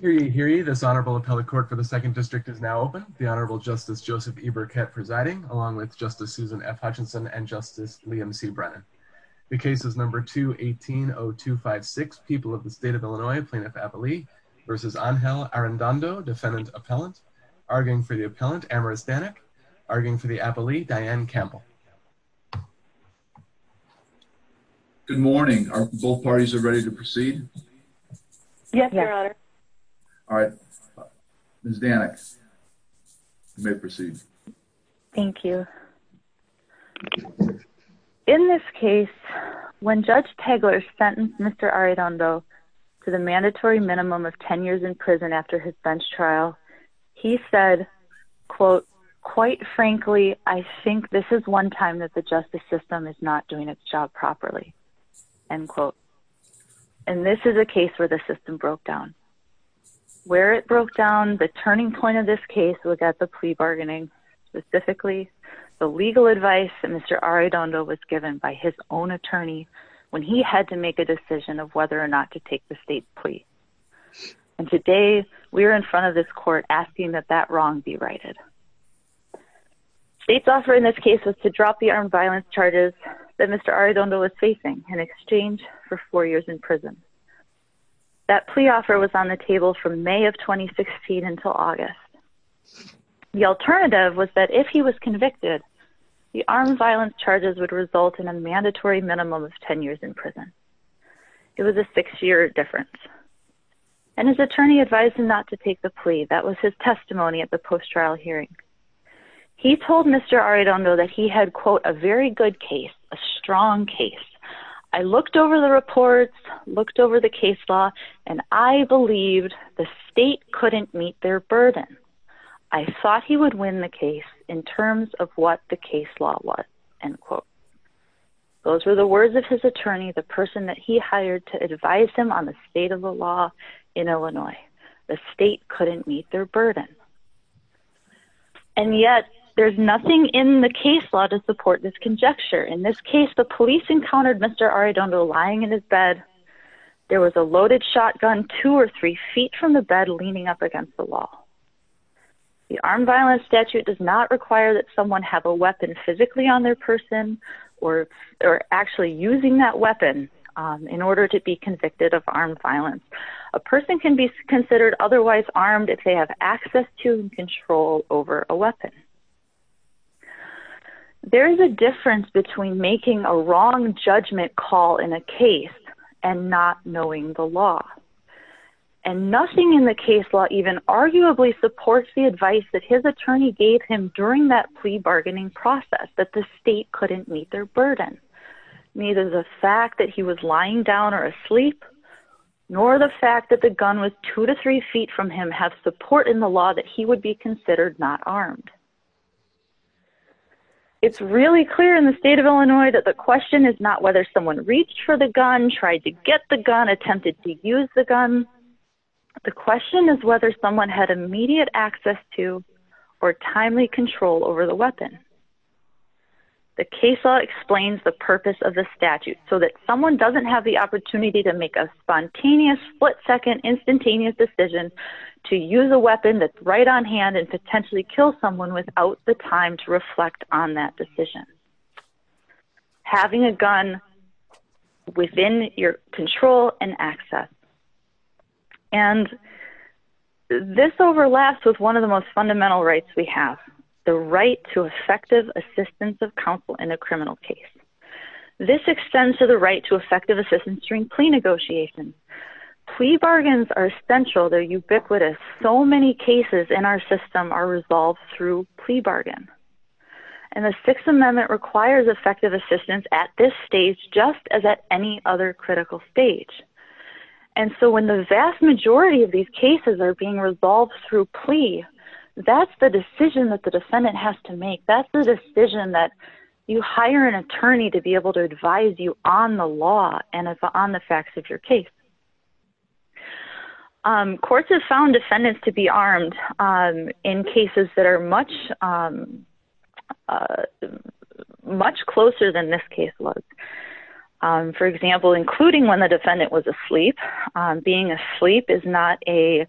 Hear ye, hear ye, this Honorable Appellate Court for the 2nd District is now open. The Honorable Justice Joseph E. Burkett presiding, along with Justice Susan F. Hutchinson and Justice Liam C. Brennan. The case is No. 2180256, People of the State of Illinois, Plaintiff-Appellee v. Angel Arrendondo, Defendant-Appellant. Arguing for the Appellant, Amaris Danek. Arguing for the Appellee, Diane Campbell. Good morning. Good morning. Are both parties ready to proceed? Yes, Your Honor. All right. Ms. Danek, you may proceed. Thank you. In this case, when Judge Tegeler sentenced Mr. Arrendondo to the mandatory minimum of 10 years in prison after his bench trial, he said, quote, quite frankly, I think this is one time that the justice system is not doing its job properly, end quote. And this is a case where the system broke down. Where it broke down, the turning point of this case was at the plea bargaining, specifically the legal advice that Mr. Arrendondo was given by his own attorney when he had to make a decision of whether or not to take the state plea. And today, we are in front of this court asking that that wrong be righted. State's offer in this case was to drop the armed violence charges that Mr. Arrendondo was facing in exchange for four years in prison. That plea offer was on the table from May of 2016 until August. The alternative was that if he was convicted, the armed violence charges would result in a mandatory minimum of 10 years in prison. It was a six-year difference. And his attorney advised him not to take the plea. That was his testimony at the post-trial hearing. He told Mr. Arrendondo that he had, quote, a very good case, a strong case. I looked over the reports, looked over the case law, and I believed the state couldn't meet their burden. I thought he would win the case in terms of what the case law was, end quote. Those were the words of his attorney, the person that he hired to advise him on the state of the law in Illinois. The state couldn't meet their burden. And yet, there's nothing in the case law to support this conjecture. In this case, the police encountered Mr. Arrendondo lying in his bed. There was a loaded shotgun two or three feet from the bed leaning up against the wall. The armed violence statute does not require that someone have a weapon physically on their person or actually using that weapon in order to be convicted of armed violence. A person can be considered otherwise armed if they have access to and control over a weapon. There is a difference between making a wrong judgment call in a case and not knowing the law. And nothing in the case law even arguably supports the advice that his attorney gave him during that plea bargaining process, that the state couldn't meet their burden. Neither the fact that he was lying down or asleep, nor the fact that the gun was two to three feet from him have support in the law that he would be considered not armed. It's really clear in the state of Illinois that the question is not whether someone reached for the gun, tried to get the gun, attempted to use the gun. The question is whether someone had immediate access to or timely control over the weapon. The case law explains the purpose of the statute so that someone doesn't have the opportunity to make a spontaneous, split second, instantaneous decision to use a weapon that's right on hand and potentially kill someone without the time to reflect on that decision. Having a gun within your control and access. And this overlaps with one of the most fundamental rights we have, the right to effective assistance of counsel in a criminal case. This extends to the right to effective assistance during plea negotiations. Plea bargains are essential, they're ubiquitous, so many cases in our system are resolved through plea bargain. And the Sixth Amendment requires effective assistance at this stage just as at any other critical stage. And so when the vast majority of these cases are being resolved through plea, that's the decision that the defendant has to make, that's the decision that you hire an attorney to be able to advise you on the law and on the facts of your case. Courts have found defendants to be armed in cases that are much closer than this case was. For example, including when the defendant was asleep. Being asleep is not a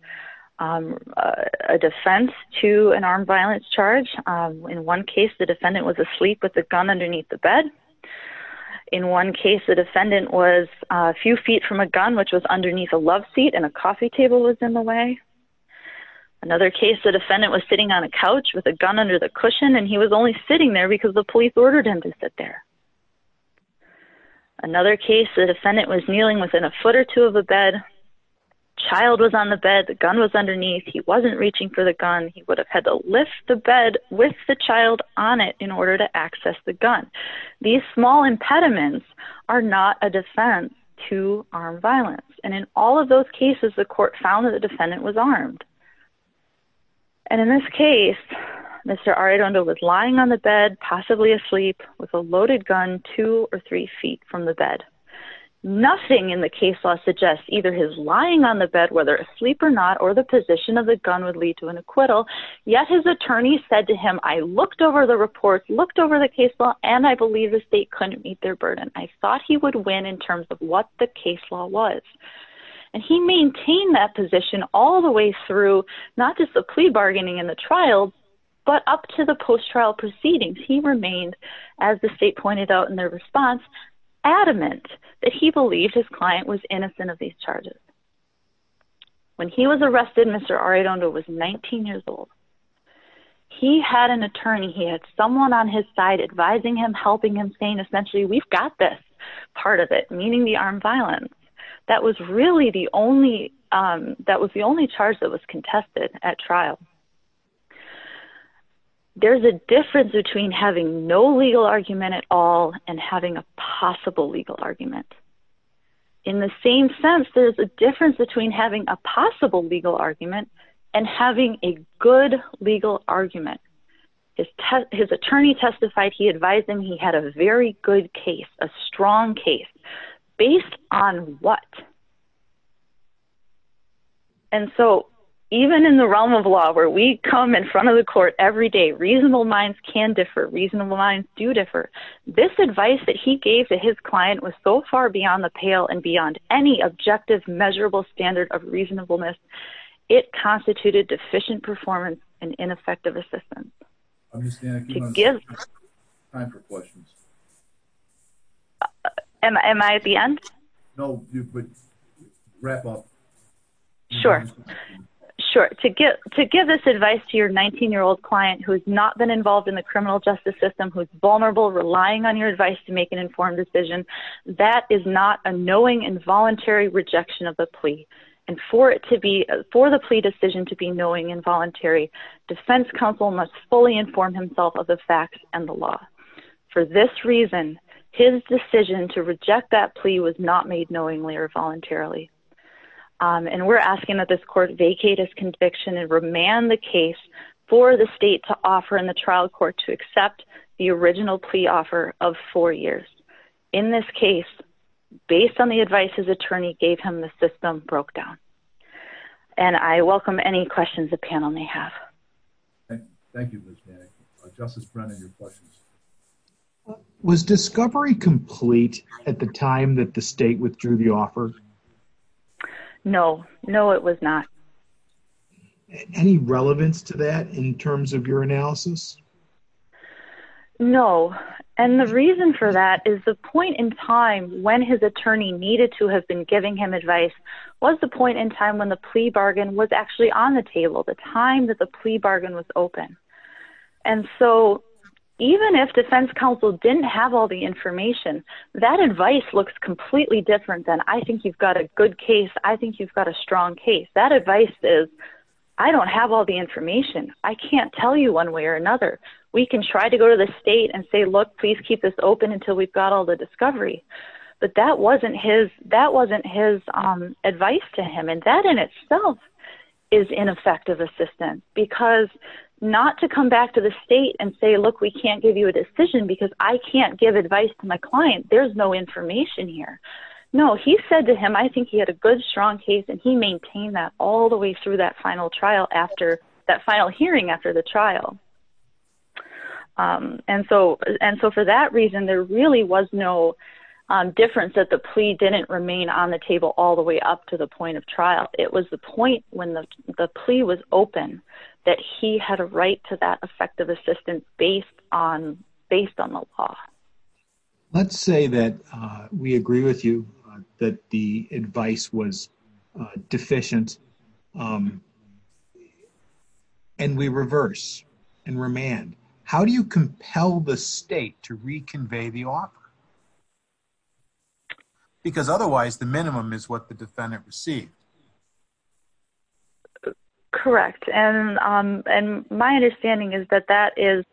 defense to an armed violence charge. In one case, the defendant was asleep with a gun underneath the bed. In one case, the defendant was a few feet from a gun, which was underneath a love seat and a coffee table was in the way. Another case, the defendant was sitting on a couch with a gun under the cushion and he was only sitting there because the police ordered him to sit there. Another case, the defendant was kneeling within a foot or two of a bed, child was on the bed, the gun was underneath, he wasn't reaching for the gun, he would have had to lift the bed with the child on it in order to access the gun. These small impediments are not a defense to armed violence. And in all of those cases, the court found that the defendant was armed. And in this case, Mr. Arredondo was lying on the bed, possibly asleep, with a loaded gun two or three feet from the bed. Nothing in the case law suggests either his lying on the bed, whether asleep or not, or the position of the gun would lead to an acquittal, yet his attorney said to him, I looked over the report, looked over the case law, and I believe the state couldn't meet their burden. I thought he would win in terms of what the case law was. And he maintained that position all the way through, not just the plea bargaining and the trial, but up to the post-trial proceedings. He remained, as the state pointed out in their response, adamant that he believed his client was innocent of these charges. When he was arrested, Mr. Arredondo was 19 years old. He had an attorney, he had someone on his side advising him, helping him, saying essentially, we've got this part of it, meaning the armed violence. That was really the only, that was the only charge that was contested at trial. There's a difference between having no legal argument at all and having a possible legal argument. In the same sense, there's a difference between having a possible legal argument and having a good legal argument. His attorney testified, he advised him he had a very good case, a strong case, based on what? And so, even in the realm of law, where we come in front of the court every day, reasonable minds can differ, reasonable minds do differ. This advice that he gave to his client was so far beyond the pale and beyond any objective measurable standard of reasonableness, it constituted deficient performance and ineffective assistance. Ms. Vanna, come on, it's time for questions. Am I at the end? No, but wrap up. Sure. Sure. To give this advice to your 19-year-old client who has not been involved in the criminal justice system, who is vulnerable, relying on your advice to make an informed decision, that is not a knowing, involuntary rejection of the plea. And for the plea decision to be knowing and voluntary, defense counsel must fully inform himself of the facts and the law. For this reason, his decision to reject that plea was not made knowingly or voluntarily. And we're asking that this court vacate his conviction and remand the case for the state to offer in the trial court to accept the original plea offer of four years. In this case, based on the advice his attorney gave him, the system broke down. And I welcome any questions the panel may have. Thank you, Ms. Vanna. Justice Brennan, your questions. Was discovery complete at the time that the state withdrew the offer? No. No, it was not. Any relevance to that in terms of your analysis? No. And the reason for that is the point in time when his attorney needed to have been giving him advice was the point in time when the plea bargain was actually on the table, the time that the plea bargain was open. And so even if defense counsel didn't have all the information, that advice looks completely different than, I think you've got a good case, I think you've got a strong case. That advice is, I don't have all the information. I can't tell you one way or another. We can try to go to the state and say, look, please keep this open until we've got all the discovery. But that wasn't his advice to him, and that in itself is ineffective assistance. Because not to come back to the state and say, look, we can't give you a decision because I can't give advice to my client, there's no information here. No, he said to him, I think he had a good, strong case, and he maintained that all the way through that final hearing after the trial. And so for that reason, there really was no difference that the plea didn't remain on the table all the way up to the point of trial. It was the point when the plea was open that he had a right to that effective assistance based on the law. Let's say that we agree with you that the advice was deficient, and we reverse and remand. How do you compel the state to reconvey the offer? Because otherwise, the minimum is what the defendant received. Correct, and my understanding is that that is,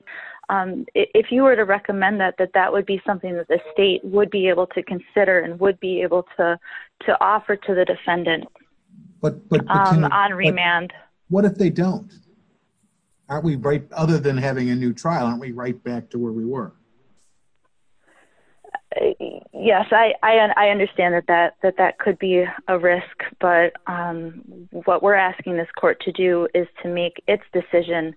if you were to recommend that, that that would be something that the state would be able to consider and would be able to offer to the defendant on remand. What if they don't? Other than having a new trial, aren't we right back to where we were? Yes, I understand that that could be a risk, but what we're asking this court to do is to make its decision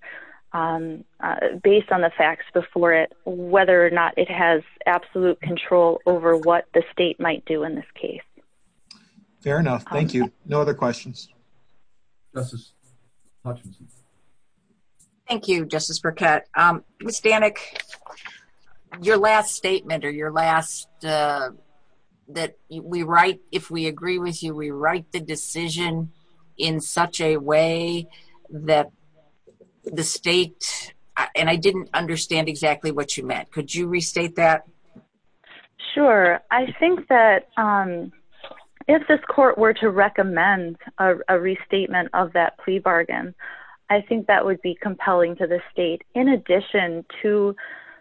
based on the facts before it, whether or not it has absolute control over what the state might do in this case. Fair enough. Thank you. No other questions. Justice Hutchinson. Thank you, Justice Burkett. Ms. Stanek, your last statement, or your last, that we write, if we agree with you, we write the decision in such a way that the state, and I didn't understand exactly what you meant. Could you restate that? Sure. I think that if this court were to recommend a restatement of that plea bargain, I think that would be compelling to the state. In addition to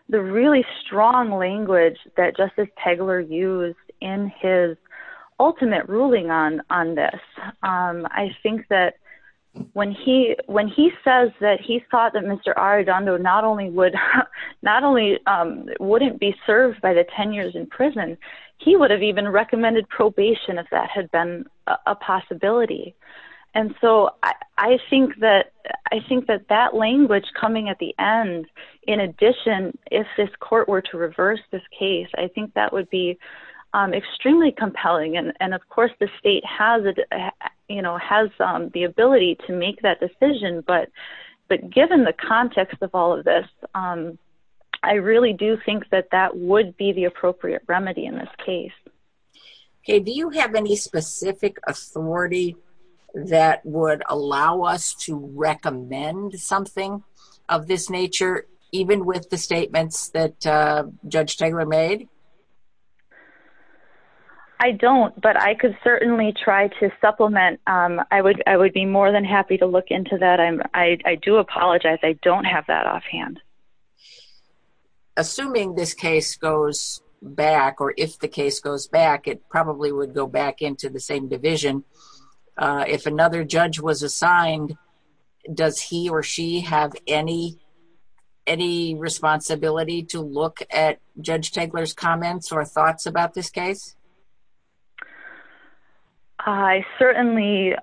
the really strong language that Justice Pegler used in his ultimate ruling on this, I think that when he says that he thought that Mr. Arredondo not only wouldn't be served by the 10 years in prison, he would have even recommended probation if that had been a possibility. And so I think that that language coming at the end, in addition, if this court were to reverse this case, I think that would be extremely compelling. And of course, the state has the ability to make that decision, but given the context of all of this, I really do think that that would be the appropriate remedy in this case. Okay. Do you have any specific authority that would allow us to recommend something of this nature, even with the statements that Judge Pegler made? I don't, but I could certainly try to supplement. I would be more than happy to look into that. I do apologize. I don't have that offhand. Assuming this case goes back, or if the case goes back, it probably would go back into the same division, if another judge was assigned, does he or she have any responsibility to look at Judge Pegler's comments or thoughts about this case? I certainly,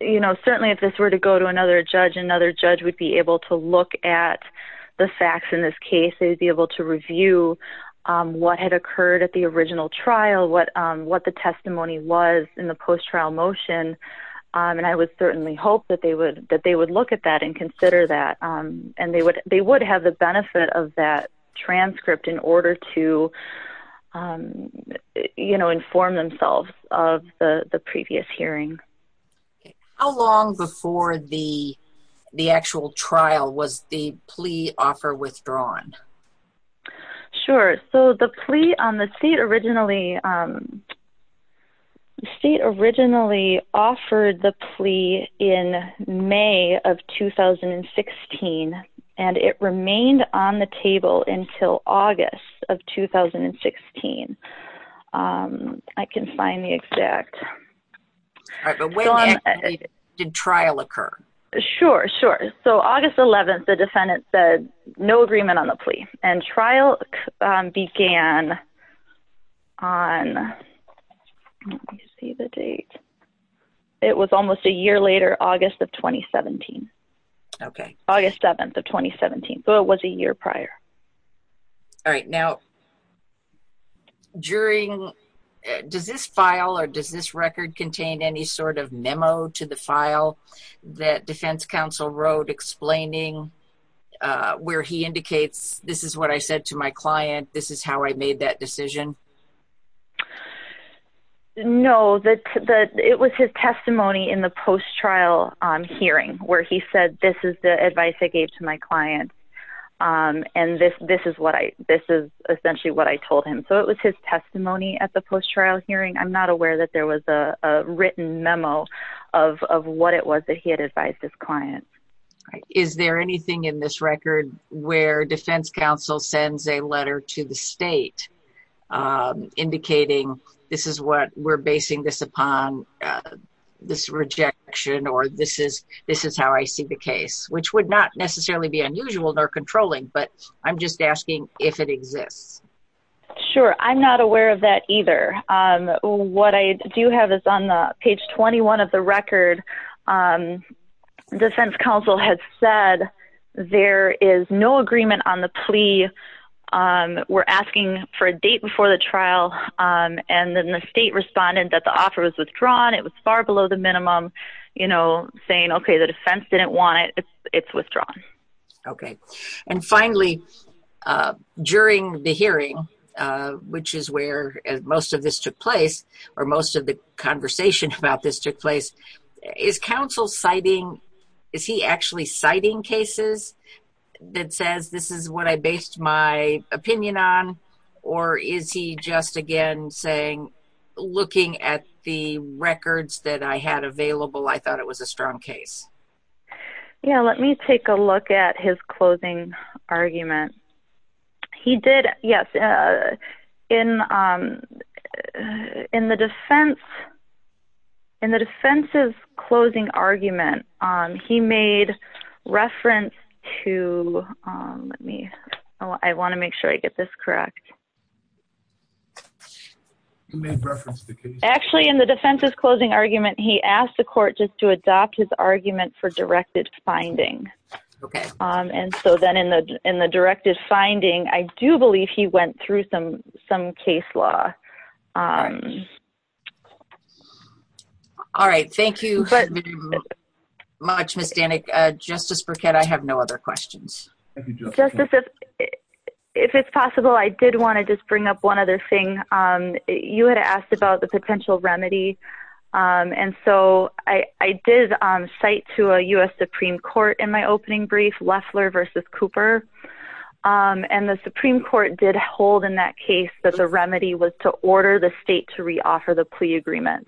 you know, certainly if this were to go to another judge, another judge would be able to look at the facts in this case, they would be able to review what had occurred at the original trial, what the testimony was in the post-trial motion, and I would certainly hope that they would look at that and consider that. And they would have the benefit of that transcript in order to, you know, inform themselves of the previous hearing. How long before the actual trial was the plea offer withdrawn? Sure. So, the plea on the seat originally, the seat originally offered the plea in May of 2016, and it remained on the table until August of 2016. I can't find the exact… Alright, but when did the trial occur? Sure, sure. So, August 11th, the defendant said no agreement on the plea, and trial began on, let me see the date, it was almost a year later, August of 2017, August 7th of 2017, so it was a year prior. Alright, now, during… does this file or does this record contain any sort of memo to the file that defense counsel wrote explaining where he indicates, this is what I said to my client, this is how I made that decision? No, it was his testimony in the post-trial hearing where he said, this is the advice I gave to my client, and this is what I, this is essentially what I told him. So, it was his testimony at the post-trial hearing. I'm not aware that there was a written memo of what it was that he had advised his client. Is there anything in this record where defense counsel sends a letter to the state indicating, this is what we're basing this upon, this rejection, or this is how I see the case? Which would not necessarily be unusual nor controlling, but I'm just asking if it exists. Sure, I'm not aware of that either. What I do have is on page 21 of the record, defense counsel had said, there is no agreement on the plea, we're asking for a date before the trial, and then the state responded that the offer was withdrawn, it was far below the minimum, you know, saying, okay, the defense didn't want it, it's withdrawn. Okay. And finally, during the hearing, which is where most of this took place, or most of the conversation about this took place, is counsel citing, is he actually citing cases that says, this is what I based my opinion on, or is he just, again, saying, looking at the records that I had available, I thought it was a strong case? Yeah, let me take a look at his closing argument. He did, yes, in the defense's closing argument, he made reference to, let me, I want to make sure I get this correct. Actually, in the defense's closing argument, he asked the court just to adopt his argument for directed finding. And so then in the directed finding, I do believe he went through some case law. All right, thank you very much, Ms. Danek. Justice Burkett, I have no other questions. Justice, if it's possible, I did want to just bring up one other thing. You had asked about the potential remedy. And so I did cite to a U.S. Supreme Court in my opening brief, Loeffler versus Cooper. And the Supreme Court did hold in that case that the remedy was to order the state to reoffer the plea agreement.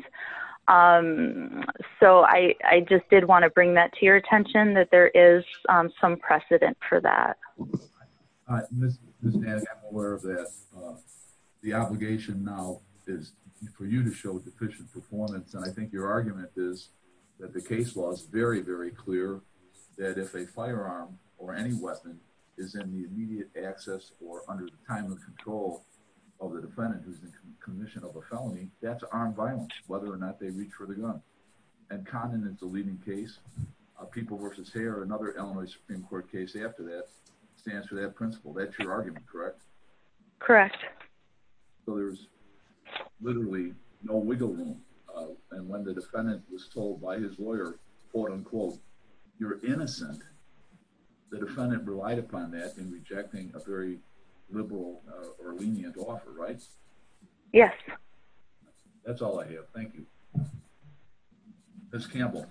So I just did want to bring that to your attention, that there is some precedent for that. Ms. Danek, I'm aware of that. The obligation now is for you to show deficient performance. And I think your argument is that the case law is very, very clear, that if a firearm or any weapon is in the immediate access or under the time of control of the defendant who's in commission of a felony, that's armed violence, whether or not they reach for the gun. And Condon in the leading case, people versus hair, another Illinois Supreme Court case after that, stands for that principle, that's your argument, correct? Correct. So there's literally no wiggle room. And when the defendant was told by his lawyer, quote, unquote, you're innocent. The defendant relied upon that in rejecting a very liberal or lenient offer, right? Yes. That's all I have. Thank you. Ms. Campbell.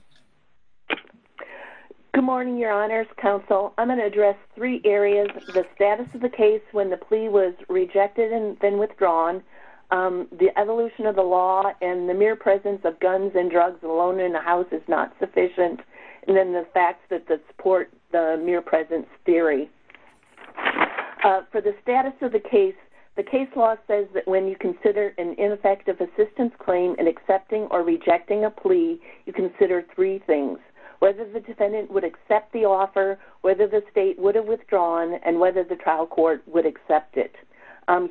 Good morning, Your Honors Counsel. I'm going to address three areas. The status of the case when the plea was rejected and then withdrawn, the evolution of the law, and the mere presence of guns and drugs alone in the house is not sufficient. And then the facts that support the mere presence theory. For the status of the case, the case law says that when you consider an ineffective assistance claim in accepting or rejecting a plea, you consider three things, whether the defendant would accept the offer, whether the state would have withdrawn, and whether the trial court would accept it.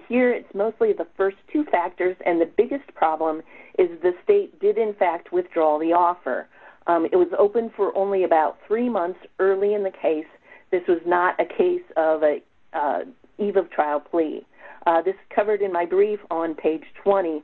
Here, it's mostly the first two factors. And the biggest problem is the state did, in fact, withdraw the offer. It was open for only about three months early in the case. This was not a case of an eve of trial plea. This is covered in my brief on page 20.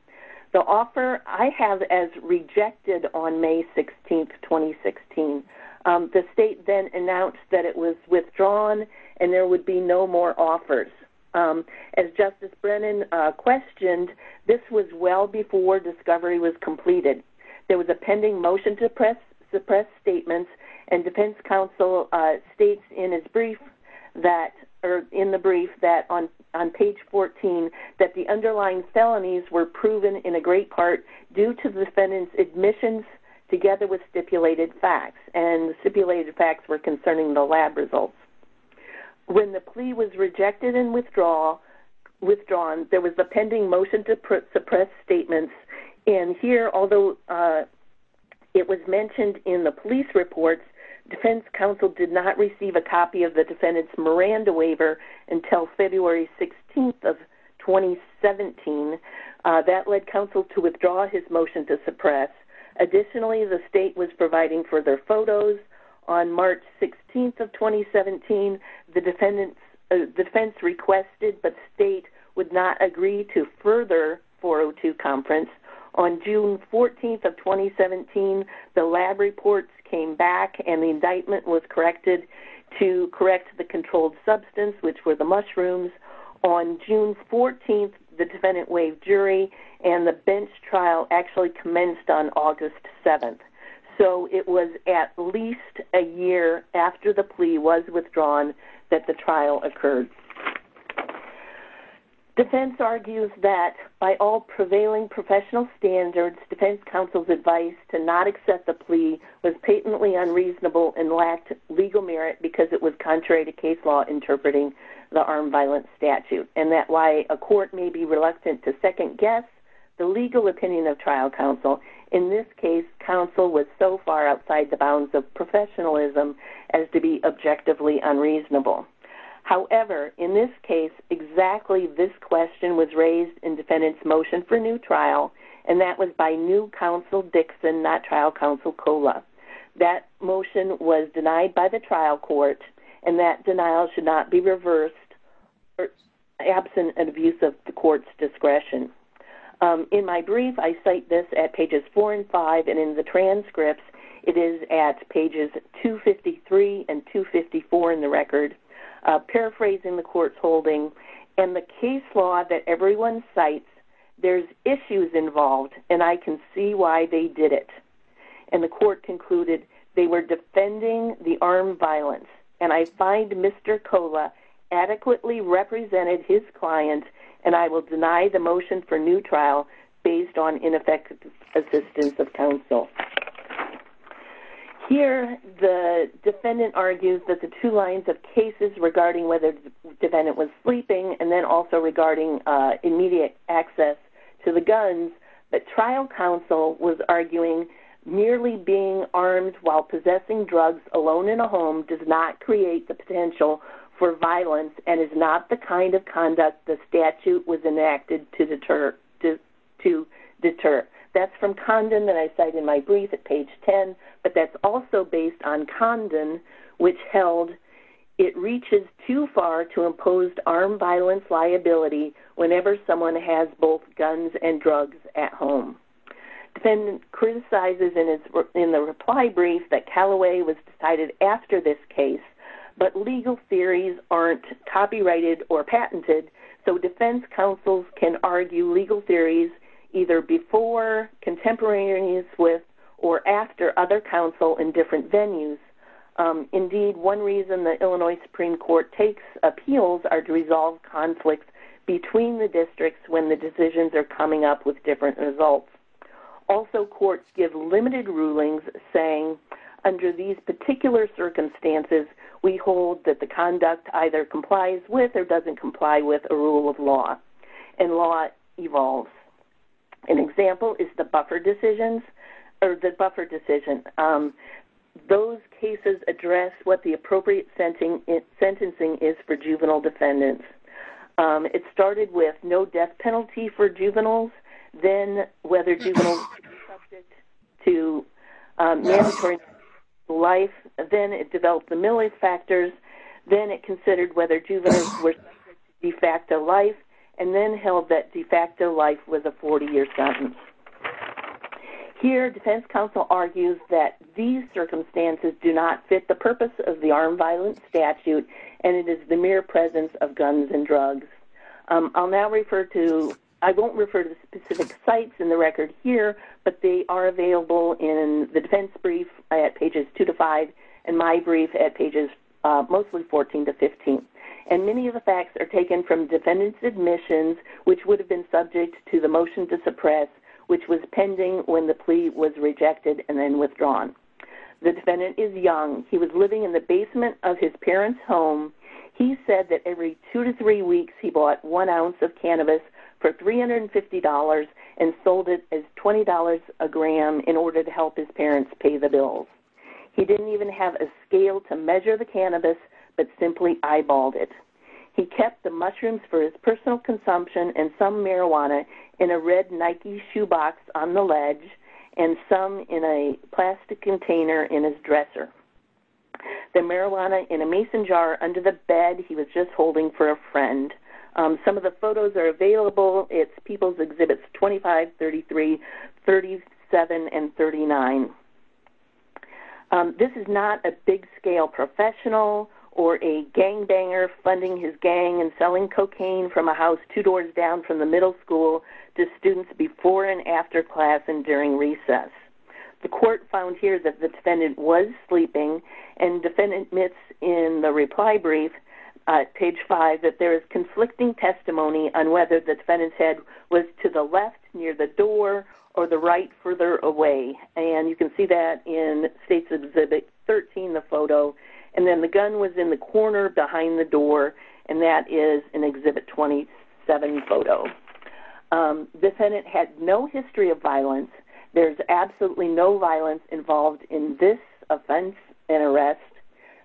The offer I have as rejected on May 16, 2016. The state then announced that it was withdrawn and there would be no more offers. As Justice Brennan questioned, this was well before discovery was completed. There was a pending motion to suppress statements. And defense counsel states in the brief that on page 14 that the underlying felonies were proven in a great part due to the defendant's admissions together with stipulated facts. And the stipulated facts were concerning the lab results. When the plea was rejected and withdrawn, there was a pending motion to suppress statements. And here, although it was mentioned in the police reports, defense counsel did not receive a copy of the defendant's Miranda waiver until February 16, 2017. That led counsel to withdraw his motion to suppress. Additionally, the state was providing further photos. On March 16, 2017, the defense requested but state would not agree to further 402 conference. On June 14, 2017, the lab reports came back and the indictment was corrected to correct the controlled substance, which were the mushrooms. On June 14, the defendant waived jury and the bench trial actually commenced on August 7. So it was at least a year after the plea was withdrawn that the trial occurred. Defense argues that by all prevailing professional standards, defense counsel's advice to not accept the plea was patently unreasonable and lacked legal merit because it was contrary to case law interpreting the armed violence statute. And that why a court may be reluctant to second guess the legal opinion of trial counsel. In this case, counsel was so far outside the bounds of professionalism as to be objectively unreasonable. However, in this case, exactly this question was raised in defendant's motion for new trial, and that was by new counsel Dixon, not trial counsel Cola. That motion was denied by the trial court, and that denial should not be reversed absent of use of the court's discretion. In my brief, I cite this at pages 4 and 5, and in the transcripts, it is at pages 253 and 254 in the record. Paraphrasing the court's holding, in the case law that everyone cites, there's issues involved, and I can see why they did it. And the court concluded they were defending the armed violence, and I find Mr. Cola adequately represented his client, and I will deny the motion for new trial based on ineffective assistance of counsel. Here, the defendant argues that the two lines of cases regarding whether the defendant was sleeping and then also regarding immediate access to the guns, that trial counsel was arguing merely being armed while possessing drugs alone in a home does not create the potential for violence and is not the kind of conduct the statute was enacted to deter. That's from Condon that I cite in my brief at page 10, but that's also based on Condon, which held it reaches too far to impose armed violence liability whenever someone has both guns and drugs at home. Defendant criticizes in the reply brief that Callaway was decided after this case, but legal theories aren't copyrighted or patented, so defense counsels can argue legal theories either before, contemporaneous with, or after other counsel in different venues. Indeed, one reason the Illinois Supreme Court takes appeals are to resolve conflicts between the districts when the decisions are coming up with different results. Also, courts give limited rulings saying under these particular circumstances, we hold that the conduct either complies with or doesn't comply with a rule of law, and law evolves. An example is the buffer decision. Those cases address what the appropriate sentencing is for juvenile defendants. It started with no death penalty for juveniles, then whether juveniles were subject to mandatory life, then it developed the millie factors, then it considered whether juveniles were subject to de facto life, and then held that de facto life was a 40-year sentence. Here, defense counsel argues that these circumstances do not fit the purpose of the armed violence statute, and it is the mere presence of guns and drugs. I won't refer to specific sites in the record here, but they are available in the defense brief at pages 2-5 and my brief at pages mostly 14-15. Many of the facts are taken from defendant's admissions, which would have been subject to the motion to suppress, which was pending when the plea was rejected and then withdrawn. The defendant is young. He was living in the basement of his parents' home. He said that every two to three weeks he bought one ounce of cannabis for $350 and sold it as $20 a gram in order to help his parents pay the bills. He didn't even have a scale to measure the cannabis but simply eyeballed it. He kept the mushrooms for his personal consumption and some marijuana in a red Nike shoebox on the ledge and some in a plastic container in his dresser. The marijuana in a mason jar under the bed he was just holding for a friend. Some of the photos are available. It's People's Exhibits 25, 33, 37, and 39. This is not a big-scale professional or a gangbanger funding his gang and selling cocaine from a house two doors down from the middle school to students before and after class and during recess. The court found here that the defendant was sleeping, and the defendant admits in the reply brief, page 5, that there is conflicting testimony on whether the defendant's head was to the left near the door or the right further away. And you can see that in States Exhibit 13, the photo. And then the gun was in the corner behind the door, and that is in Exhibit 27 photo. The defendant had no history of violence. There's absolutely no violence involved in this offense and arrest.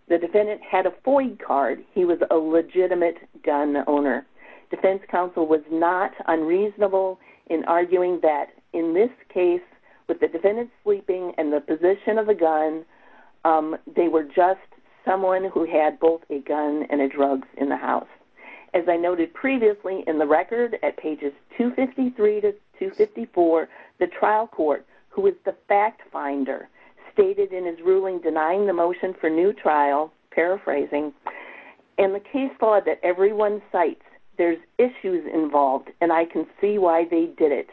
The defendant had a FOIA card. He was a legitimate gun owner. Defense counsel was not unreasonable in arguing that in this case, with the defendant sleeping and the position of the gun, they were just someone who had both a gun and a drug in the house. As I noted previously in the record at pages 253 to 254, the trial court, who is the fact finder, stated in his ruling denying the motion for new trial, paraphrasing, in the case law that everyone cites, there's issues involved, and I can see why they did it.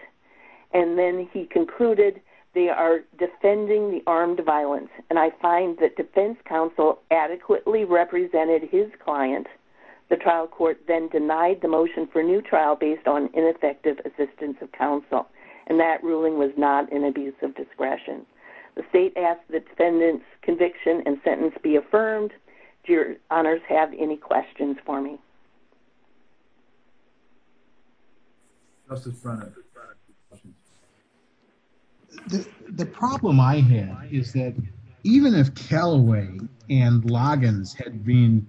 And then he concluded they are defending the armed violence, and I find that defense counsel adequately represented his client. The trial court then denied the motion for new trial based on ineffective assistance of counsel, and that ruling was not an abuse of discretion. The state asked the defendant's conviction and sentence be affirmed. Do your honors have any questions for me? The problem I have is that even if Calaway and Loggins had been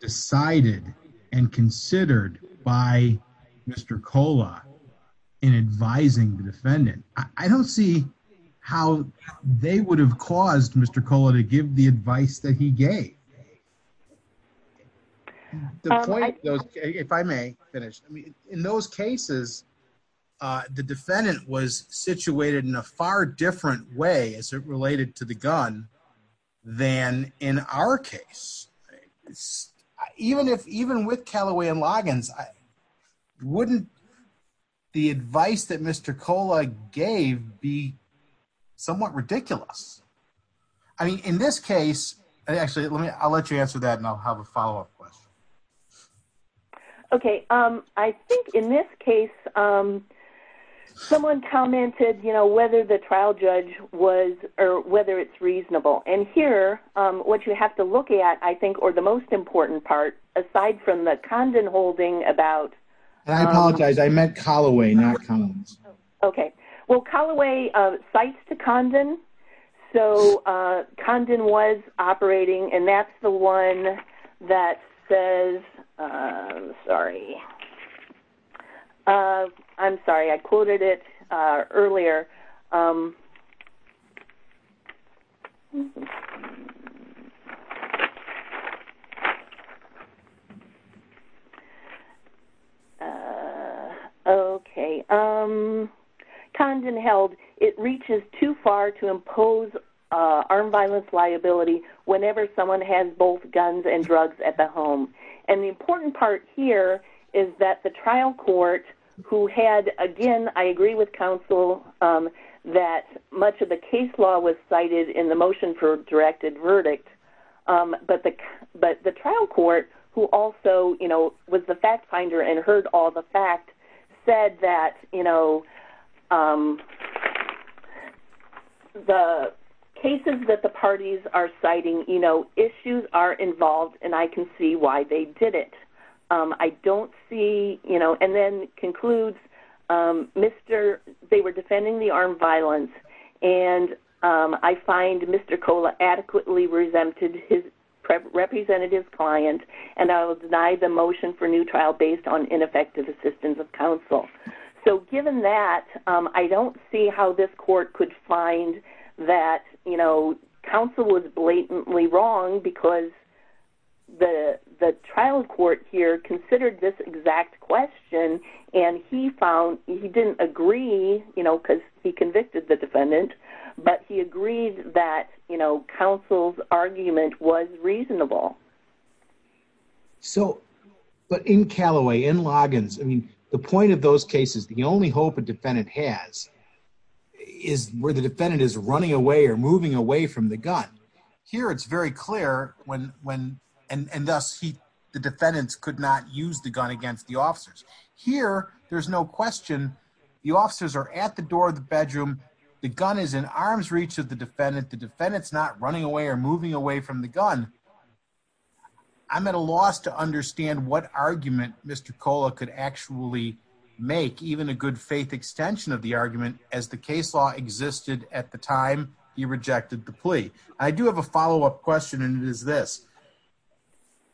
decided and considered by Mr. Cola in advising the defendant, I don't see how they would have caused Mr. The point, if I may finish, in those cases, the defendant was situated in a far different way as it related to the gun than in our case. Even if even with Calaway and Loggins, wouldn't the advice that Mr. Cola gave be somewhat ridiculous? In this case, I'll let you answer that, and I'll have a follow-up question. Okay. I think in this case, someone commented whether the trial judge was or whether it's reasonable. And here, what you have to look at, I think, or the most important part, aside from the Condon holding about- I apologize. I meant Calaway, not Condon. Okay. Well, Calaway cites to Condon. So Condon was operating, and that's the one that says-I'm sorry. I'm sorry. I quoted it earlier. Okay. Condon held, it reaches too far to impose armed violence liability whenever someone has both guns and drugs at the home. And the important part here is that the trial court, who had, again, I agree with counsel, that much of the case law was cited in the motion for a directed verdict. But the trial court, who also was the fact finder and heard all the facts, said that the cases that the parties are citing, issues are involved, and I can see why they did it. I don't see-and then concludes, they were defending the armed violence, and I find Mr. Cola adequately resented his representative client, and I will deny the motion for new trial based on ineffective assistance of counsel. So given that, I don't see how this court could find that counsel was blatantly wrong because the trial court here considered this exact question, and he found he didn't agree because he convicted the defendant, but he agreed that counsel's argument was reasonable. But in Callaway, in Loggins, the point of those cases, the only hope a defendant has is where the defendant is running away or moving away from the gun. Here, it's very clear, and thus the defendants could not use the gun against the officers. Here, there's no question. The officers are at the door of the bedroom. The gun is in arm's reach of the defendant. The defendant's not running away or moving away from the gun. I'm at a loss to understand what argument Mr. Cola could actually make, even a good faith extension of the argument, as the case law existed at the time he rejected the plea. I do have a follow-up question, and it is this.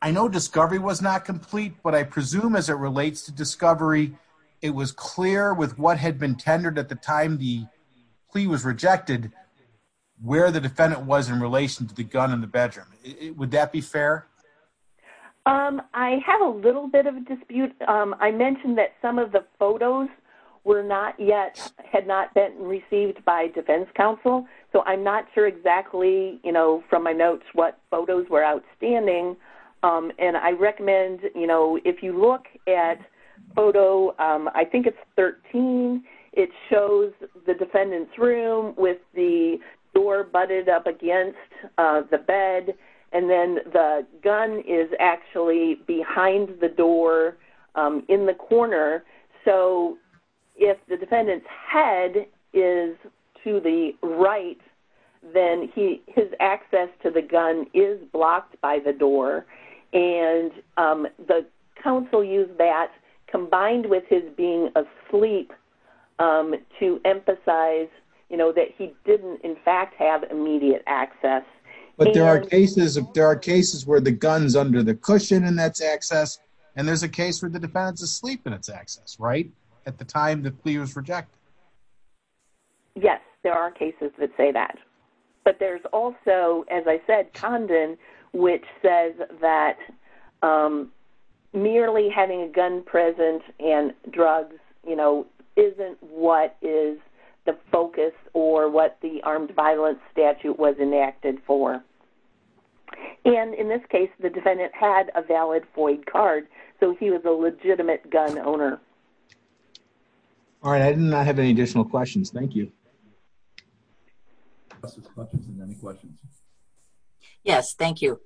I know discovery was not complete, but I presume as it relates to discovery, it was clear with what had been tendered at the time the plea was rejected where the defendant was in relation to the gun in the bedroom. Would that be fair? I have a little bit of a dispute. I mentioned that some of the photos had not been received by defense counsel, so I'm not sure exactly from my notes what photos were outstanding, and I recommend if you look at photo, I think it's 13, it shows the defendant's room with the door butted up against the bed, and then the gun is actually behind the door in the corner. So if the defendant's head is to the right, then his access to the gun is blocked by the door, and the counsel used that combined with his being asleep to emphasize, you know, that he didn't in fact have immediate access. But there are cases where the gun is under the cushion and that's access, and there's a case where the defendant is asleep and it's access, right, at the time the plea was rejected. Yes, there are cases that say that. But there's also, as I said, Condon which says that merely having a gun present and drugs, you know, isn't what is the focus or what the armed violence statute was enacted for. And in this case, the defendant had a valid FOID card, so he was a legitimate gun owner. All right. I did not have any additional questions. Thank you. Yes, thank you.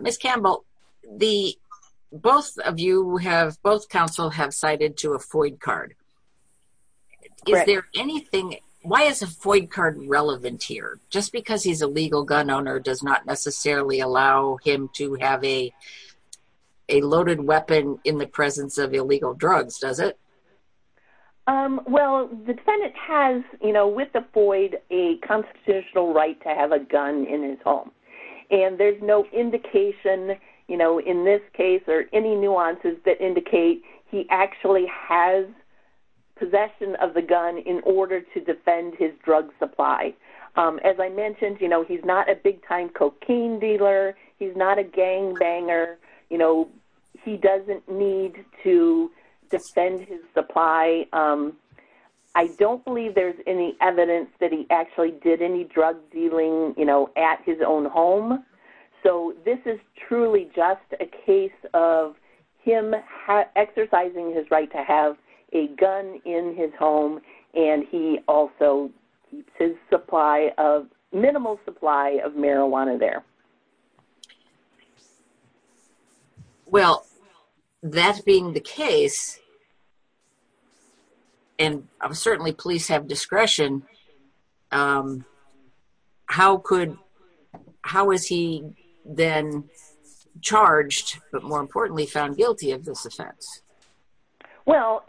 Ms. Campbell, both of you have, both counsel have cited to a FOID card. Is there anything, why is a FOID card relevant here? Just because he's a legal gun owner does not necessarily allow him to have a loaded weapon in the presence of illegal drugs, does it? Well, the defendant has, you know, with the FOID, a constitutional right to have a gun in his home. And there's no indication, you know, in this case, or any nuances that indicate he actually has possession of the gun in order to defend his drug supply. As I mentioned, you know, he's not a big-time cocaine dealer. He's not a gangbanger. You know, he doesn't need to defend his supply. I don't believe there's any evidence that he actually did any drug dealing, you know, at his own home. So this is truly just a case of him exercising his right to have a gun in his home, and he also keeps his supply of, minimal supply of marijuana there. Well, that being the case, and certainly police have discretion, how is he then charged, but more importantly found guilty of this offense? Well,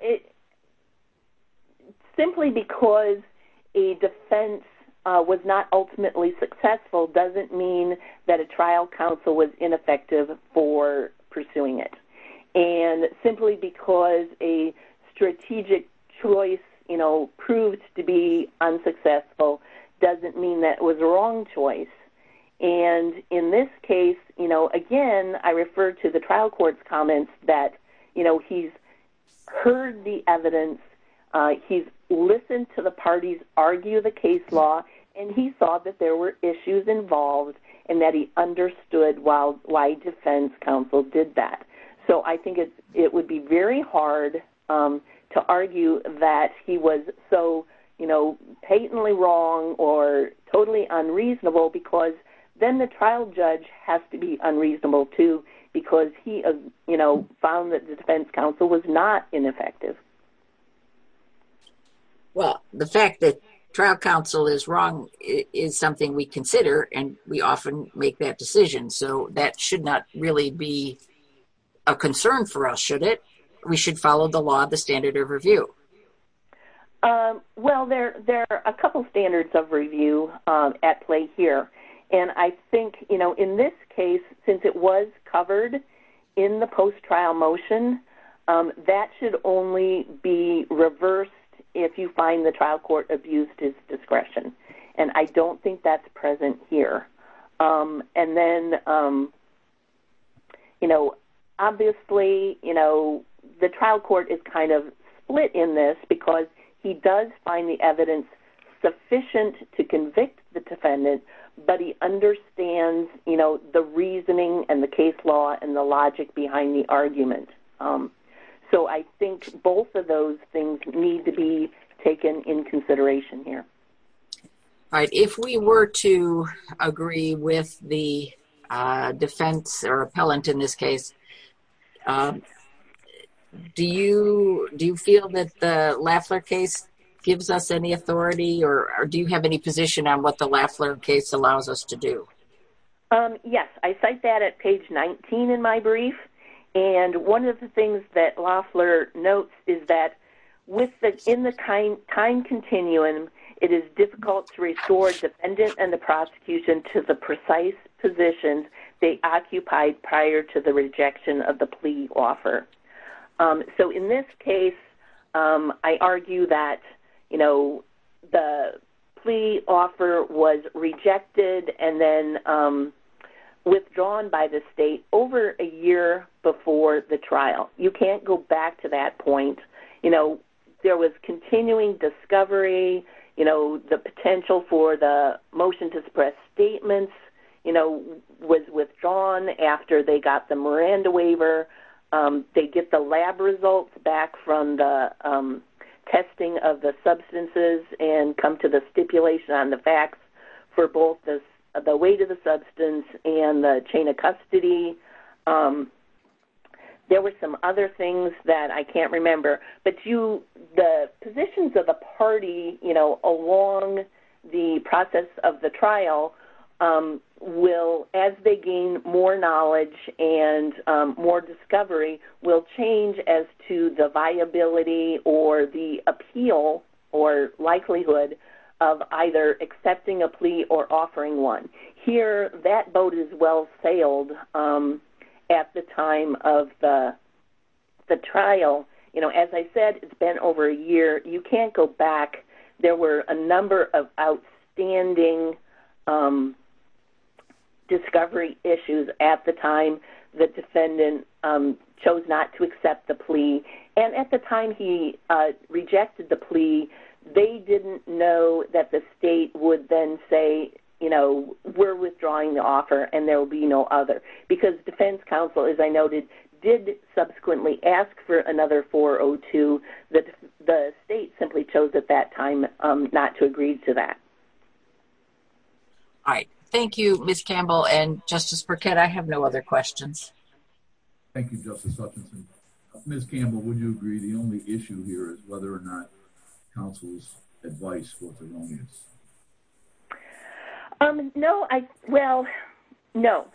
simply because a defense was not ultimately successful doesn't mean that a trial counsel was ineffective for pursuing it. And simply because a strategic choice, you know, proved to be unsuccessful doesn't mean that it was the wrong choice. And in this case, you know, again, I refer to the trial court's comments that, you know, he's heard the evidence, he's listened to the parties argue the case law, and he saw that there were issues involved and that he understood why the defense counsel did that. So I think it would be very hard to argue that he was so, you know, patently wrong or totally unreasonable because then the trial judge has to be unreasonable too because he, you know, found that the defense counsel was not ineffective. Well, the fact that trial counsel is wrong is something we consider, and we often make that decision. So that should not really be a concern for us, should it? We should follow the law, the standard of review. Well, there are a couple standards of review at play here. And I think, you know, in this case, since it was covered in the post-trial motion, that should only be reversed if you find the trial court abused his discretion. And I don't think that's present here. And then, you know, obviously, you know, the trial court is kind of split in this because he does find the evidence sufficient to convict the defendant, but he understands, you know, the reasoning and the case law and the logic behind the argument. So I think both of those things need to be taken in consideration here. All right. If we were to agree with the defense or appellant in this case, do you feel that the Lafler case gives us any authority or do you have any position on what the Lafler case allows us to do? Yes, I cite that at page 19 in my brief. And one of the things that Lafler notes is that in the time continuum, it is difficult to restore the defendant and the prosecution to the precise positions they occupied prior to the rejection of the plea offer. So in this case, I argue that, you know, the plea offer was rejected and then withdrawn by the state over a year before the trial. You can't go back to that point. You know, there was continuing discovery, you know, the potential for the motion to suppress statements, you know, was withdrawn after they got the Miranda waiver. They get the lab results back from the testing of the substances and come to the stipulation on the facts for both the weight of the substance and the chain of custody. There were some other things that I can't remember. But the positions of the party, you know, along the process of the trial will, as they gain more knowledge and more discovery, will change as to the viability or the appeal or likelihood of either accepting a plea or offering one. Here, that boat is well sailed at the time of the trial. You know, as I said, it's been over a year. You can't go back. There were a number of outstanding discovery issues at the time the state chose not to accept the plea. And at the time he rejected the plea, they didn't know that the state would then say, you know, we're withdrawing the offer and there will be no other. Because defense counsel, as I noted, did subsequently ask for another 402. The state simply chose at that time not to agree to that. All right. Thank you, Ms. Campbell and Justice Burkett. I have no other questions. Thank you, Justice Hutchinson. Ms. Campbell, would you agree the only issue here is whether or not counsel's advice was erroneous? No. Well, no.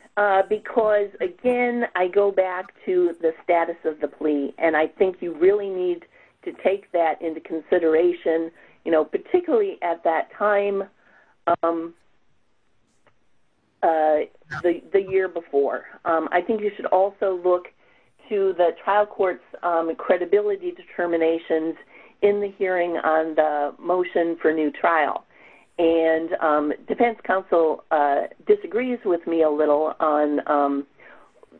Because, again, I go back to the status of the plea. And I think you really need to take that into consideration, you know, particularly at that time the year before. I think you should also look to the trial court's credibility determinations in the hearing on the motion for new trial. And defense counsel disagrees with me a little on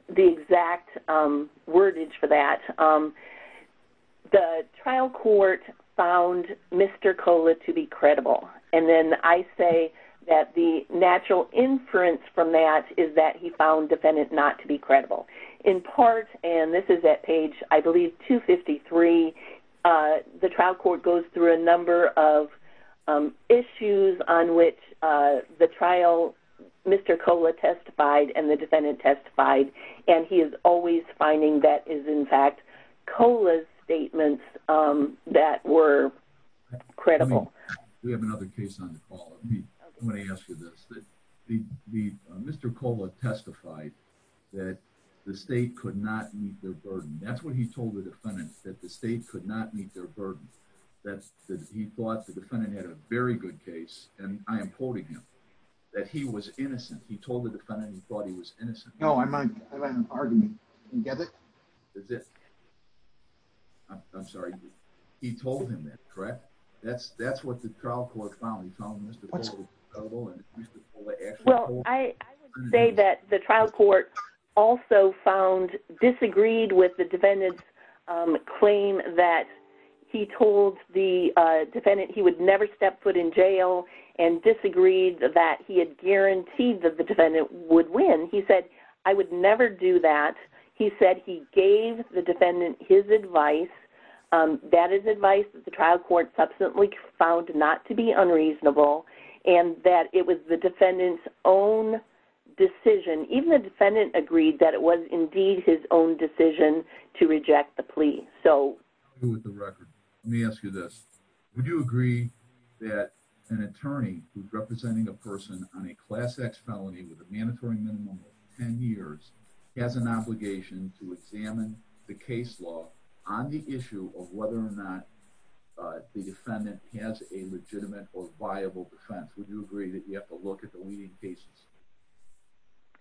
the exact wordage for that. The trial court found Mr. Kola to be credible. And then I say that the natural inference from that is that he found defendant not to be credible. In part, and this is at page, I believe, 253, the trial court goes through a number of issues on which the trial, Mr. Kola testified and the defendant testified, and he is always finding that is, in fact, Kola's statements that were credible. We have another case on the call. I'm going to ask you this. Mr. Kola testified that the state could not meet their burden. That's what he told the defendant, that the state could not meet their burden. That he thought the defendant had a very good case. And I am quoting him, that he was innocent. He told the defendant he thought he was innocent. No, I'm arguing. You get it? Is it? I'm sorry. He told him that, correct? That's what the trial court found. He found Mr. Kola credible and Mr. Kola actually told him. Well, I would say that the trial court also found disagreed with the defendant's claim that he told the defendant he would never step foot in jail and disagreed that he had guaranteed that the defendant would win. He said, I would never do that. He said he gave the defendant his advice. That is advice that the trial court subsequently found not to be unreasonable. And that it was the defendant's own decision. Even the defendant agreed that it was indeed his own decision to reject the plea. So. Let me ask you this. Would you agree that an attorney who's representing a person on a class X felony with a mandatory minimum of 10 years has an obligation to examine the case law on the issue of whether or not the defendant has a legitimate or viable defense? Would you agree that you have to look at the leading cases?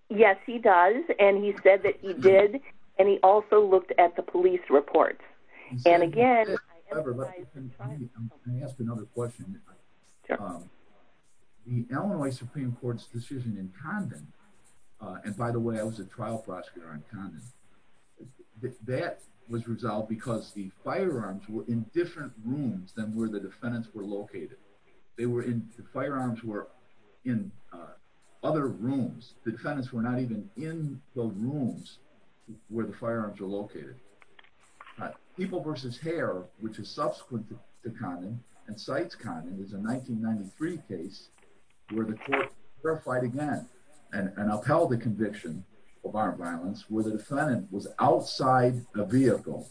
Yes, he does. And he said that he did. And he also looked at the police reports. And again. I'm going to ask another question. The Illinois Supreme court's decision in Condon. And by the way, I was a trial prosecutor in Condon. That was resolved because the firearms were in different rooms than where the defendants were located. They were in the firearms were in other rooms. The defendants were not even in the rooms where the firearms are located. People versus hair, which is subsequent to condom and sites. Condon is a 1993 case where the court verified again and upheld the conviction of our violence where the defendant was outside a vehicle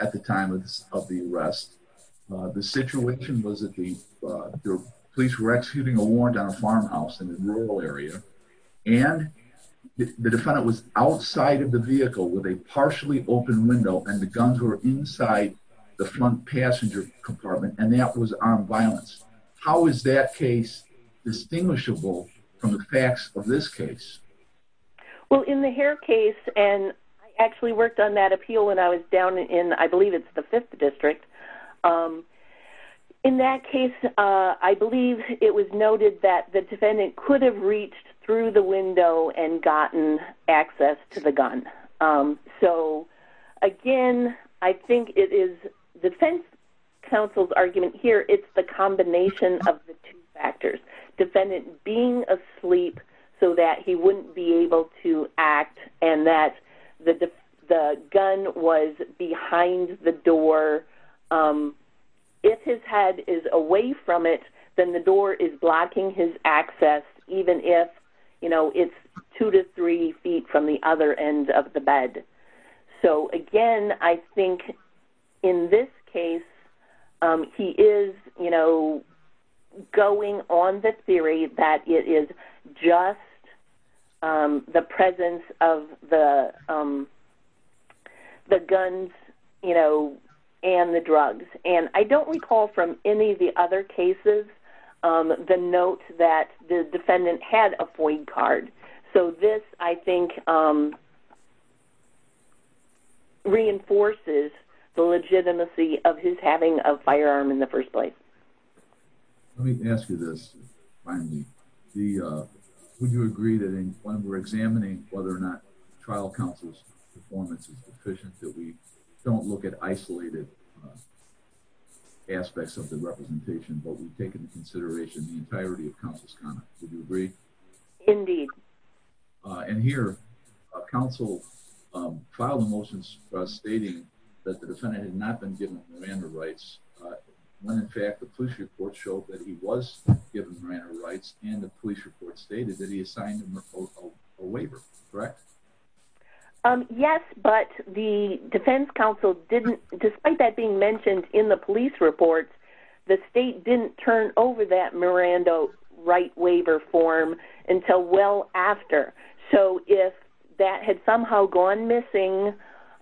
at the time of the arrest. The situation was that the police were executing a warrant on a farmhouse in the rural area. And the defendant was outside of the vehicle with a partially open window and the guns were inside the front passenger compartment. And that was armed violence. How is that case distinguishable from the facts of this case? Well, in the hair case, and I actually worked on that appeal when I was down in, I believe it's the fifth district. In that case, I believe it was noted that the defendant could have reached through the window and gotten access to the gun. So again, I think it is defense counsel's argument here. It's the combination of the two factors defendant being asleep so that he wouldn't be able to act and that the, the gun was behind the door. If his head is away from it, then the door is blocking his access. Even if, you know, it's two to three feet from the other end of the bed. So again, I think in this case he is, you know, going on the theory that it is just the presence of the, the guns, you know, and the drugs. And I don't recall from any of the other cases, the note that the defendant had a point card. So this, I think reinforces the legitimacy of his having a firearm in the first place. Let me ask you this. Finally, the would you agree that when we're examining whether or not trial counsel's performance is deficient, that we don't look at isolated aspects of the representation, but we've taken the consideration, the entirety of council's conduct. Would you agree? Indeed. And here. Council filed a motion stating that the defendant had not been given Miranda rights. When in fact the police report showed that he was given Miranda rights and the police report stated that he assigned him a waiver. Correct. Yes, but the defense council didn't, despite that being mentioned in the police report, the state didn't turn over that Miranda right waiver form until well after. So if that had somehow gone missing,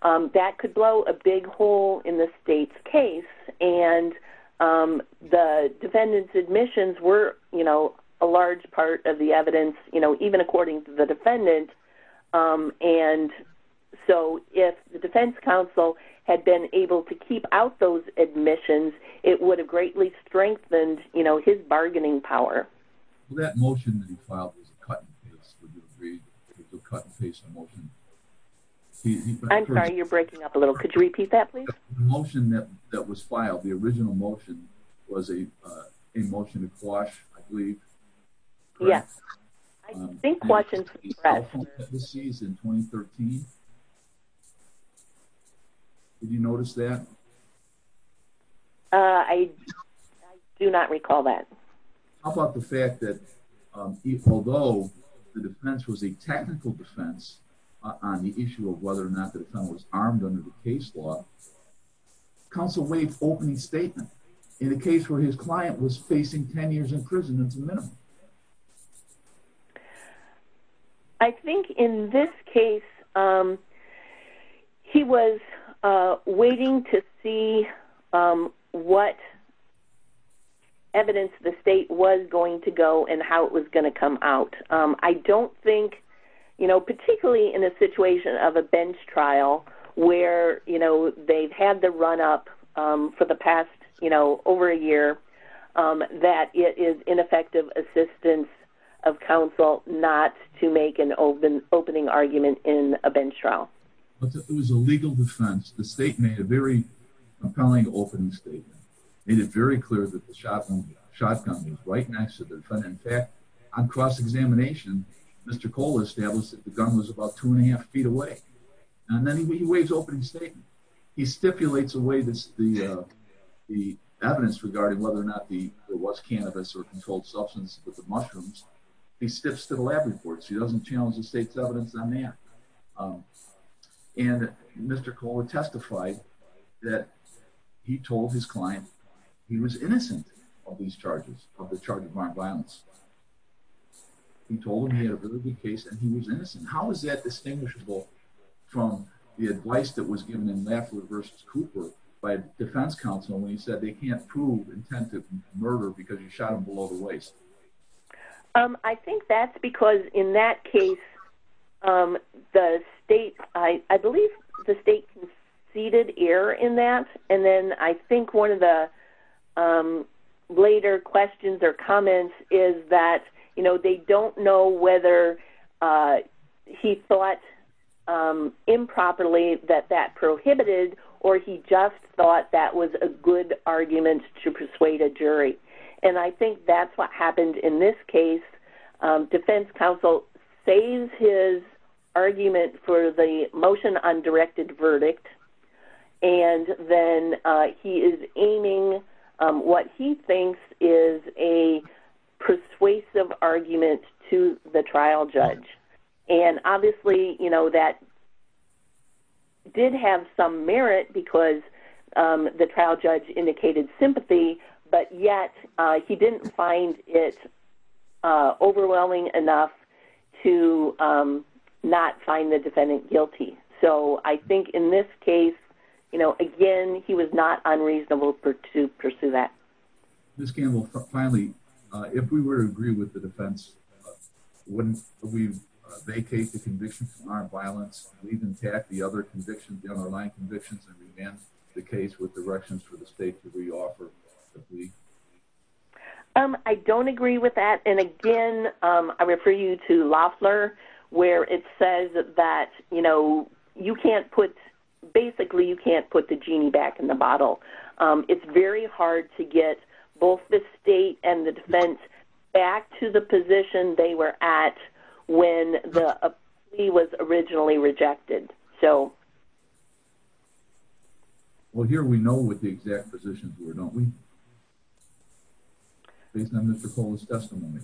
that could blow a big hole in the state's case. And the defendant's admissions were, you know, a large part of the evidence, you know, even according to the defendant. And so if the defense council had been able to keep out those admissions, it would have greatly strengthened, you know, his bargaining power. Well, that motion that he filed was a cut and paste. Would you agree? It's a cut and paste emotion. I'm sorry. You're breaking up a little. Could you repeat that please? Motion that was filed. The original motion was a, a motion to quash. I believe. Yes. I think. In 2013. Did you notice that? I. Do not recall that. How about the fact that. Although the defense was a technical defense. On the issue of whether or not the defendant was armed under the case law. Counsel waive opening statement. In a case where his client was facing 10 years in prison. It's a minimum. I think in this case, He was waiting to see what. Evidence the state was going to go and how it was going to come out. I don't think. You know, particularly in a situation of a bench trial where, you know, they've had the run up for the past, you know, over a year that it is ineffective assistance. I don't think it was a legal defense. The state made a very compelling opening statement. It is very clear that the shotgun. Shotgun. Right next to the front. On cross-examination. Mr. Cole established that the gun was about two and a half feet away. And then he waves opening statement. He stipulates a way. The evidence regarding whether or not the, there was cannabis or controlled substance, but the mushrooms. He steps to the lab reports. He doesn't challenge the state's evidence on that. And Mr. Cole had testified. That. He told his client. He was innocent. Of these charges of the charge of armed violence. He told him. He had a really good case and he was innocent. How is that distinguishable? From the advice that was given in math versus Cooper. By defense counsel. And he said, they can't prove intent of murder because you shot him below the waist. I think that's because in that case. The state. I believe the state. Seated air in that. And then I think one of the. Later questions or comments is that, you know, they don't know whether. He thought. He thought. He thought. Improperly that that prohibited. Or he just thought that was a good argument to persuade a jury. And I think that's what happened in this case. Defense counsel. Says his. Argument for the motion on directed verdict. And then he is aiming. What he thinks is a. Persuasive argument to the trial judge. And obviously, you know, that. Did have some merit because the trial judge indicated sympathy. But yet he didn't find it. Overwhelming enough. To not find the defendant guilty. So I think in this case. You know, again, he was not unreasonable for to pursue that. This game will finally. If we were to agree with the defense. When we. Vacate the conviction. Our violence. The other convictions. The underlying convictions. The case with directions for the state to reoffer. I don't agree with that. And again, I refer you to Loffler. Where it says that, you know, you can't put. Basically, you can't put the genie back in the bottle. It's very hard to get both the state and the defense. Back to the position. They were at. When the. He was originally rejected. So. Well, here we know what the exact positions were. Don't we. Based on the testimony.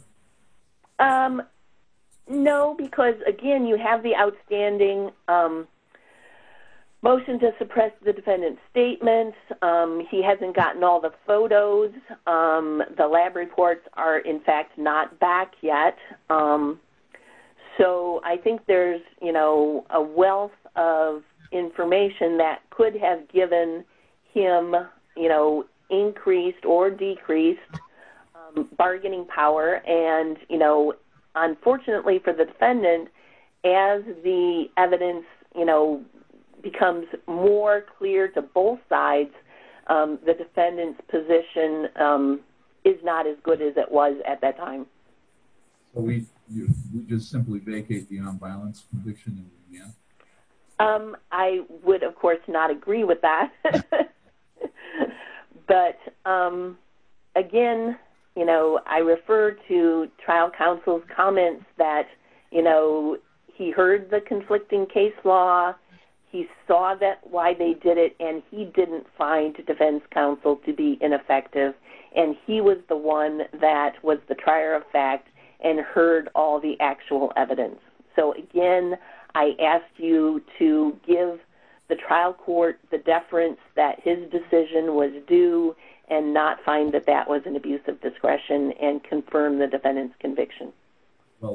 No, because again, you have the outstanding. Motion to suppress the defendant's statement. He hasn't gotten all the photos. The lab reports are, in fact, not back yet. So I think there's, you know, a wealth of information. That could have given him, you know, increased or decreased. Bargaining power. And, you know, unfortunately for the defendant. As the evidence, you know, becomes more clear to both sides. The defendant's position is not as good as it was at that time. We just simply vacate the nonviolence conviction. I would, of course, not agree with that. But, again, you know, I refer to trial counsel's comments that, you know, he heard the conflicting case law. He saw why they did it. And he didn't find defense counsel to be ineffective. And he was the one that was the trier of fact and heard all the actual evidence. So, again, I ask you to give the trial court the deference that his decision was due and not find that that was an abuse of discretion and confirm the defendant's conviction. I'm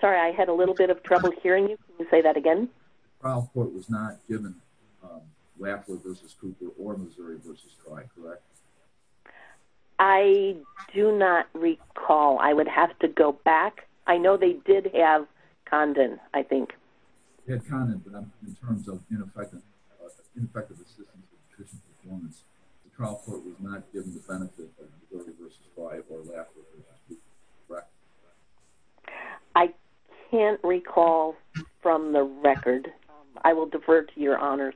sorry, I had a little bit of trouble hearing you. Can you say that again? The trial court was not given Lafleur v. Cooper or Missouri v. Frye, correct? I do not recall. I would have to go back. I know they did have Condon, I think. They had Condon, but in terms of ineffective assistance and attrition performance, the trial court was not given the benefit of Missouri v. Frye or Lafleur v. Cooper, correct? I can't recall from the record. I will defer to your honors.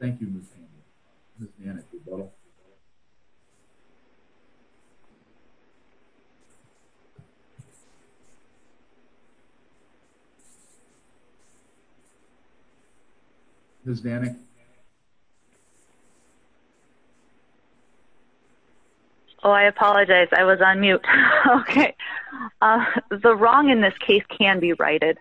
Thank you, Ms. Danny. Oh, I apologize. I was on mute. Okay. The wrong in this case can be righted.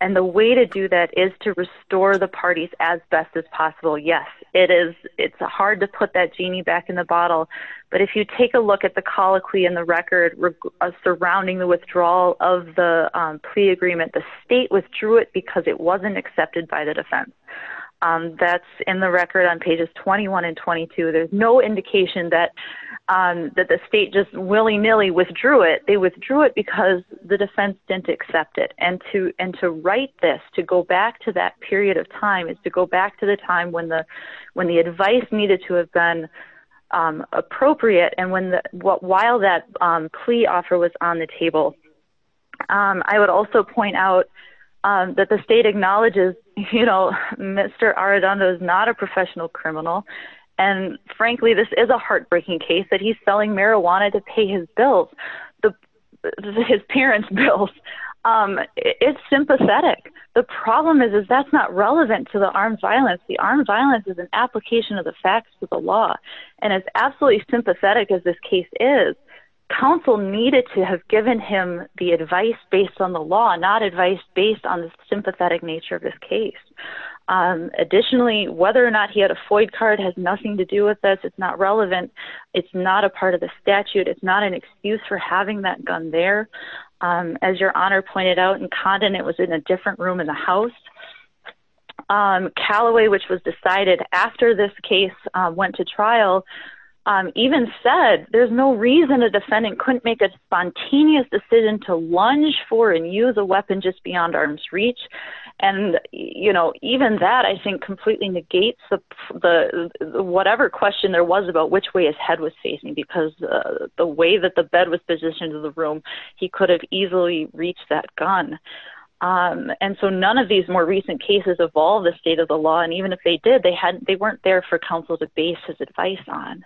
And the way to do that is to restore the parties as best as possible. Yes, it's hard to put that genie back in the bottle, but if you take a look at the colloquy in the record surrounding the withdrawal of the plea agreement, the state withdrew it because it wasn't accepted by the defense. That's in the record on pages 21 and 22. There's no indication that the state just willy-nilly withdrew it. They withdrew it because the defense didn't accept it. And to right this, to go back to that period of time, is to go back to the time when the advice needed to have been appropriate and while that plea offer was on the table. I would also point out that the state acknowledges, you know, Mr. Arredondo is not a professional criminal. And, frankly, this is a heartbreaking case that he's selling marijuana to pay his bills. His parents' bills. It's sympathetic. The problem is that that's not relevant to the armed violence. The armed violence is an application of the facts of the law. And as absolutely sympathetic as this case is, counsel needed to have given him the advice based on the law, not advice based on the sympathetic nature of this case. Additionally, whether or not he had a FOID card has nothing to do with this. It's not relevant. It's not a part of the statute. It's not an excuse for having that gun there. As your honor pointed out in Condon, it was in a different room in the house. Calloway, which was decided after this case went to trial, even said, there's no reason a defendant couldn't make a spontaneous decision to lunge for and use a weapon just beyond arm's reach. And, you know, even that, I think, completely negates the whatever question there was about which way his head was facing, because the way that the bed was positioned in the room, he could have easily reached that gun. And so none of these more recent cases evolve the state of the law. And even if they did, they weren't there for counsel to base his advice on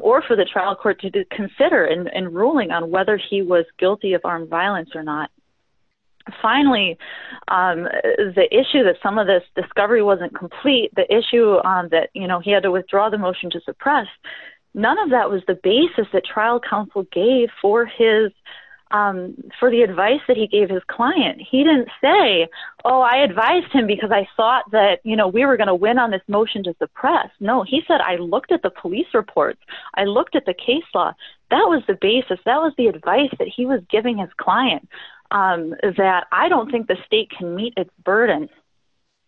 or for the trial court to consider in ruling on whether he was guilty of armed violence or not. Finally, the issue that some of this discovery wasn't complete, the issue that, you know, he had to withdraw the motion to suppress, none of that was the basis that trial counsel gave for the advice that he gave his client. He didn't say, oh, I advised him because I thought that, you know, we were going to win on this motion to suppress. No, he said, I looked at the police reports. I looked at the case law. That was the basis. That was the advice that he was giving his client, that I don't think the state can meet its burden.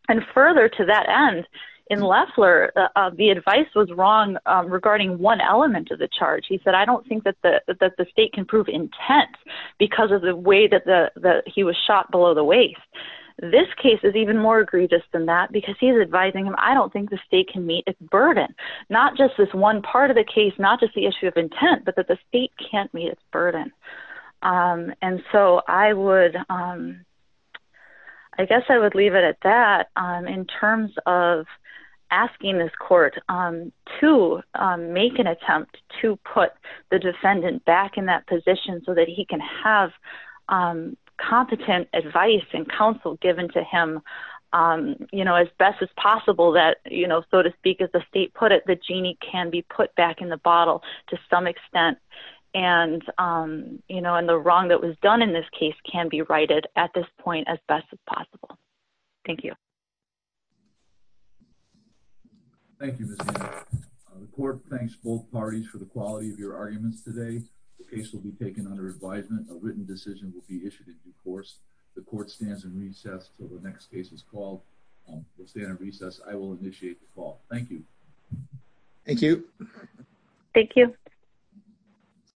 And further to that end, in Loeffler, the advice was wrong regarding one element of the charge. He said, I don't think that the state can prove intent because of the way that he was shot below the waist. This case is even more egregious than that because he's advising him, I don't think the state can meet its burden, not just this one part of the case, not just the issue of intent, but that the state can't meet its burden. And so I would, I guess I would leave it at that in terms of asking this court to make an attempt to put the defendant back in that position so that he can have competent advice and counsel given to him, you know, as best as possible that, you know, so to speak, as the state put it, the genie can be put back in the bottle to some extent. And, you know, and the wrong that was done in this case can be righted at this point as best as possible. Thank you. Thank you. The court thanks both parties for the quality of your arguments today. The case will be taken under advisement. A written decision will be issued in due course. The court stands in recess till the next case is called. We'll stand in recess. I will initiate the call. Thank you. Thank you. Thank you. Thank you.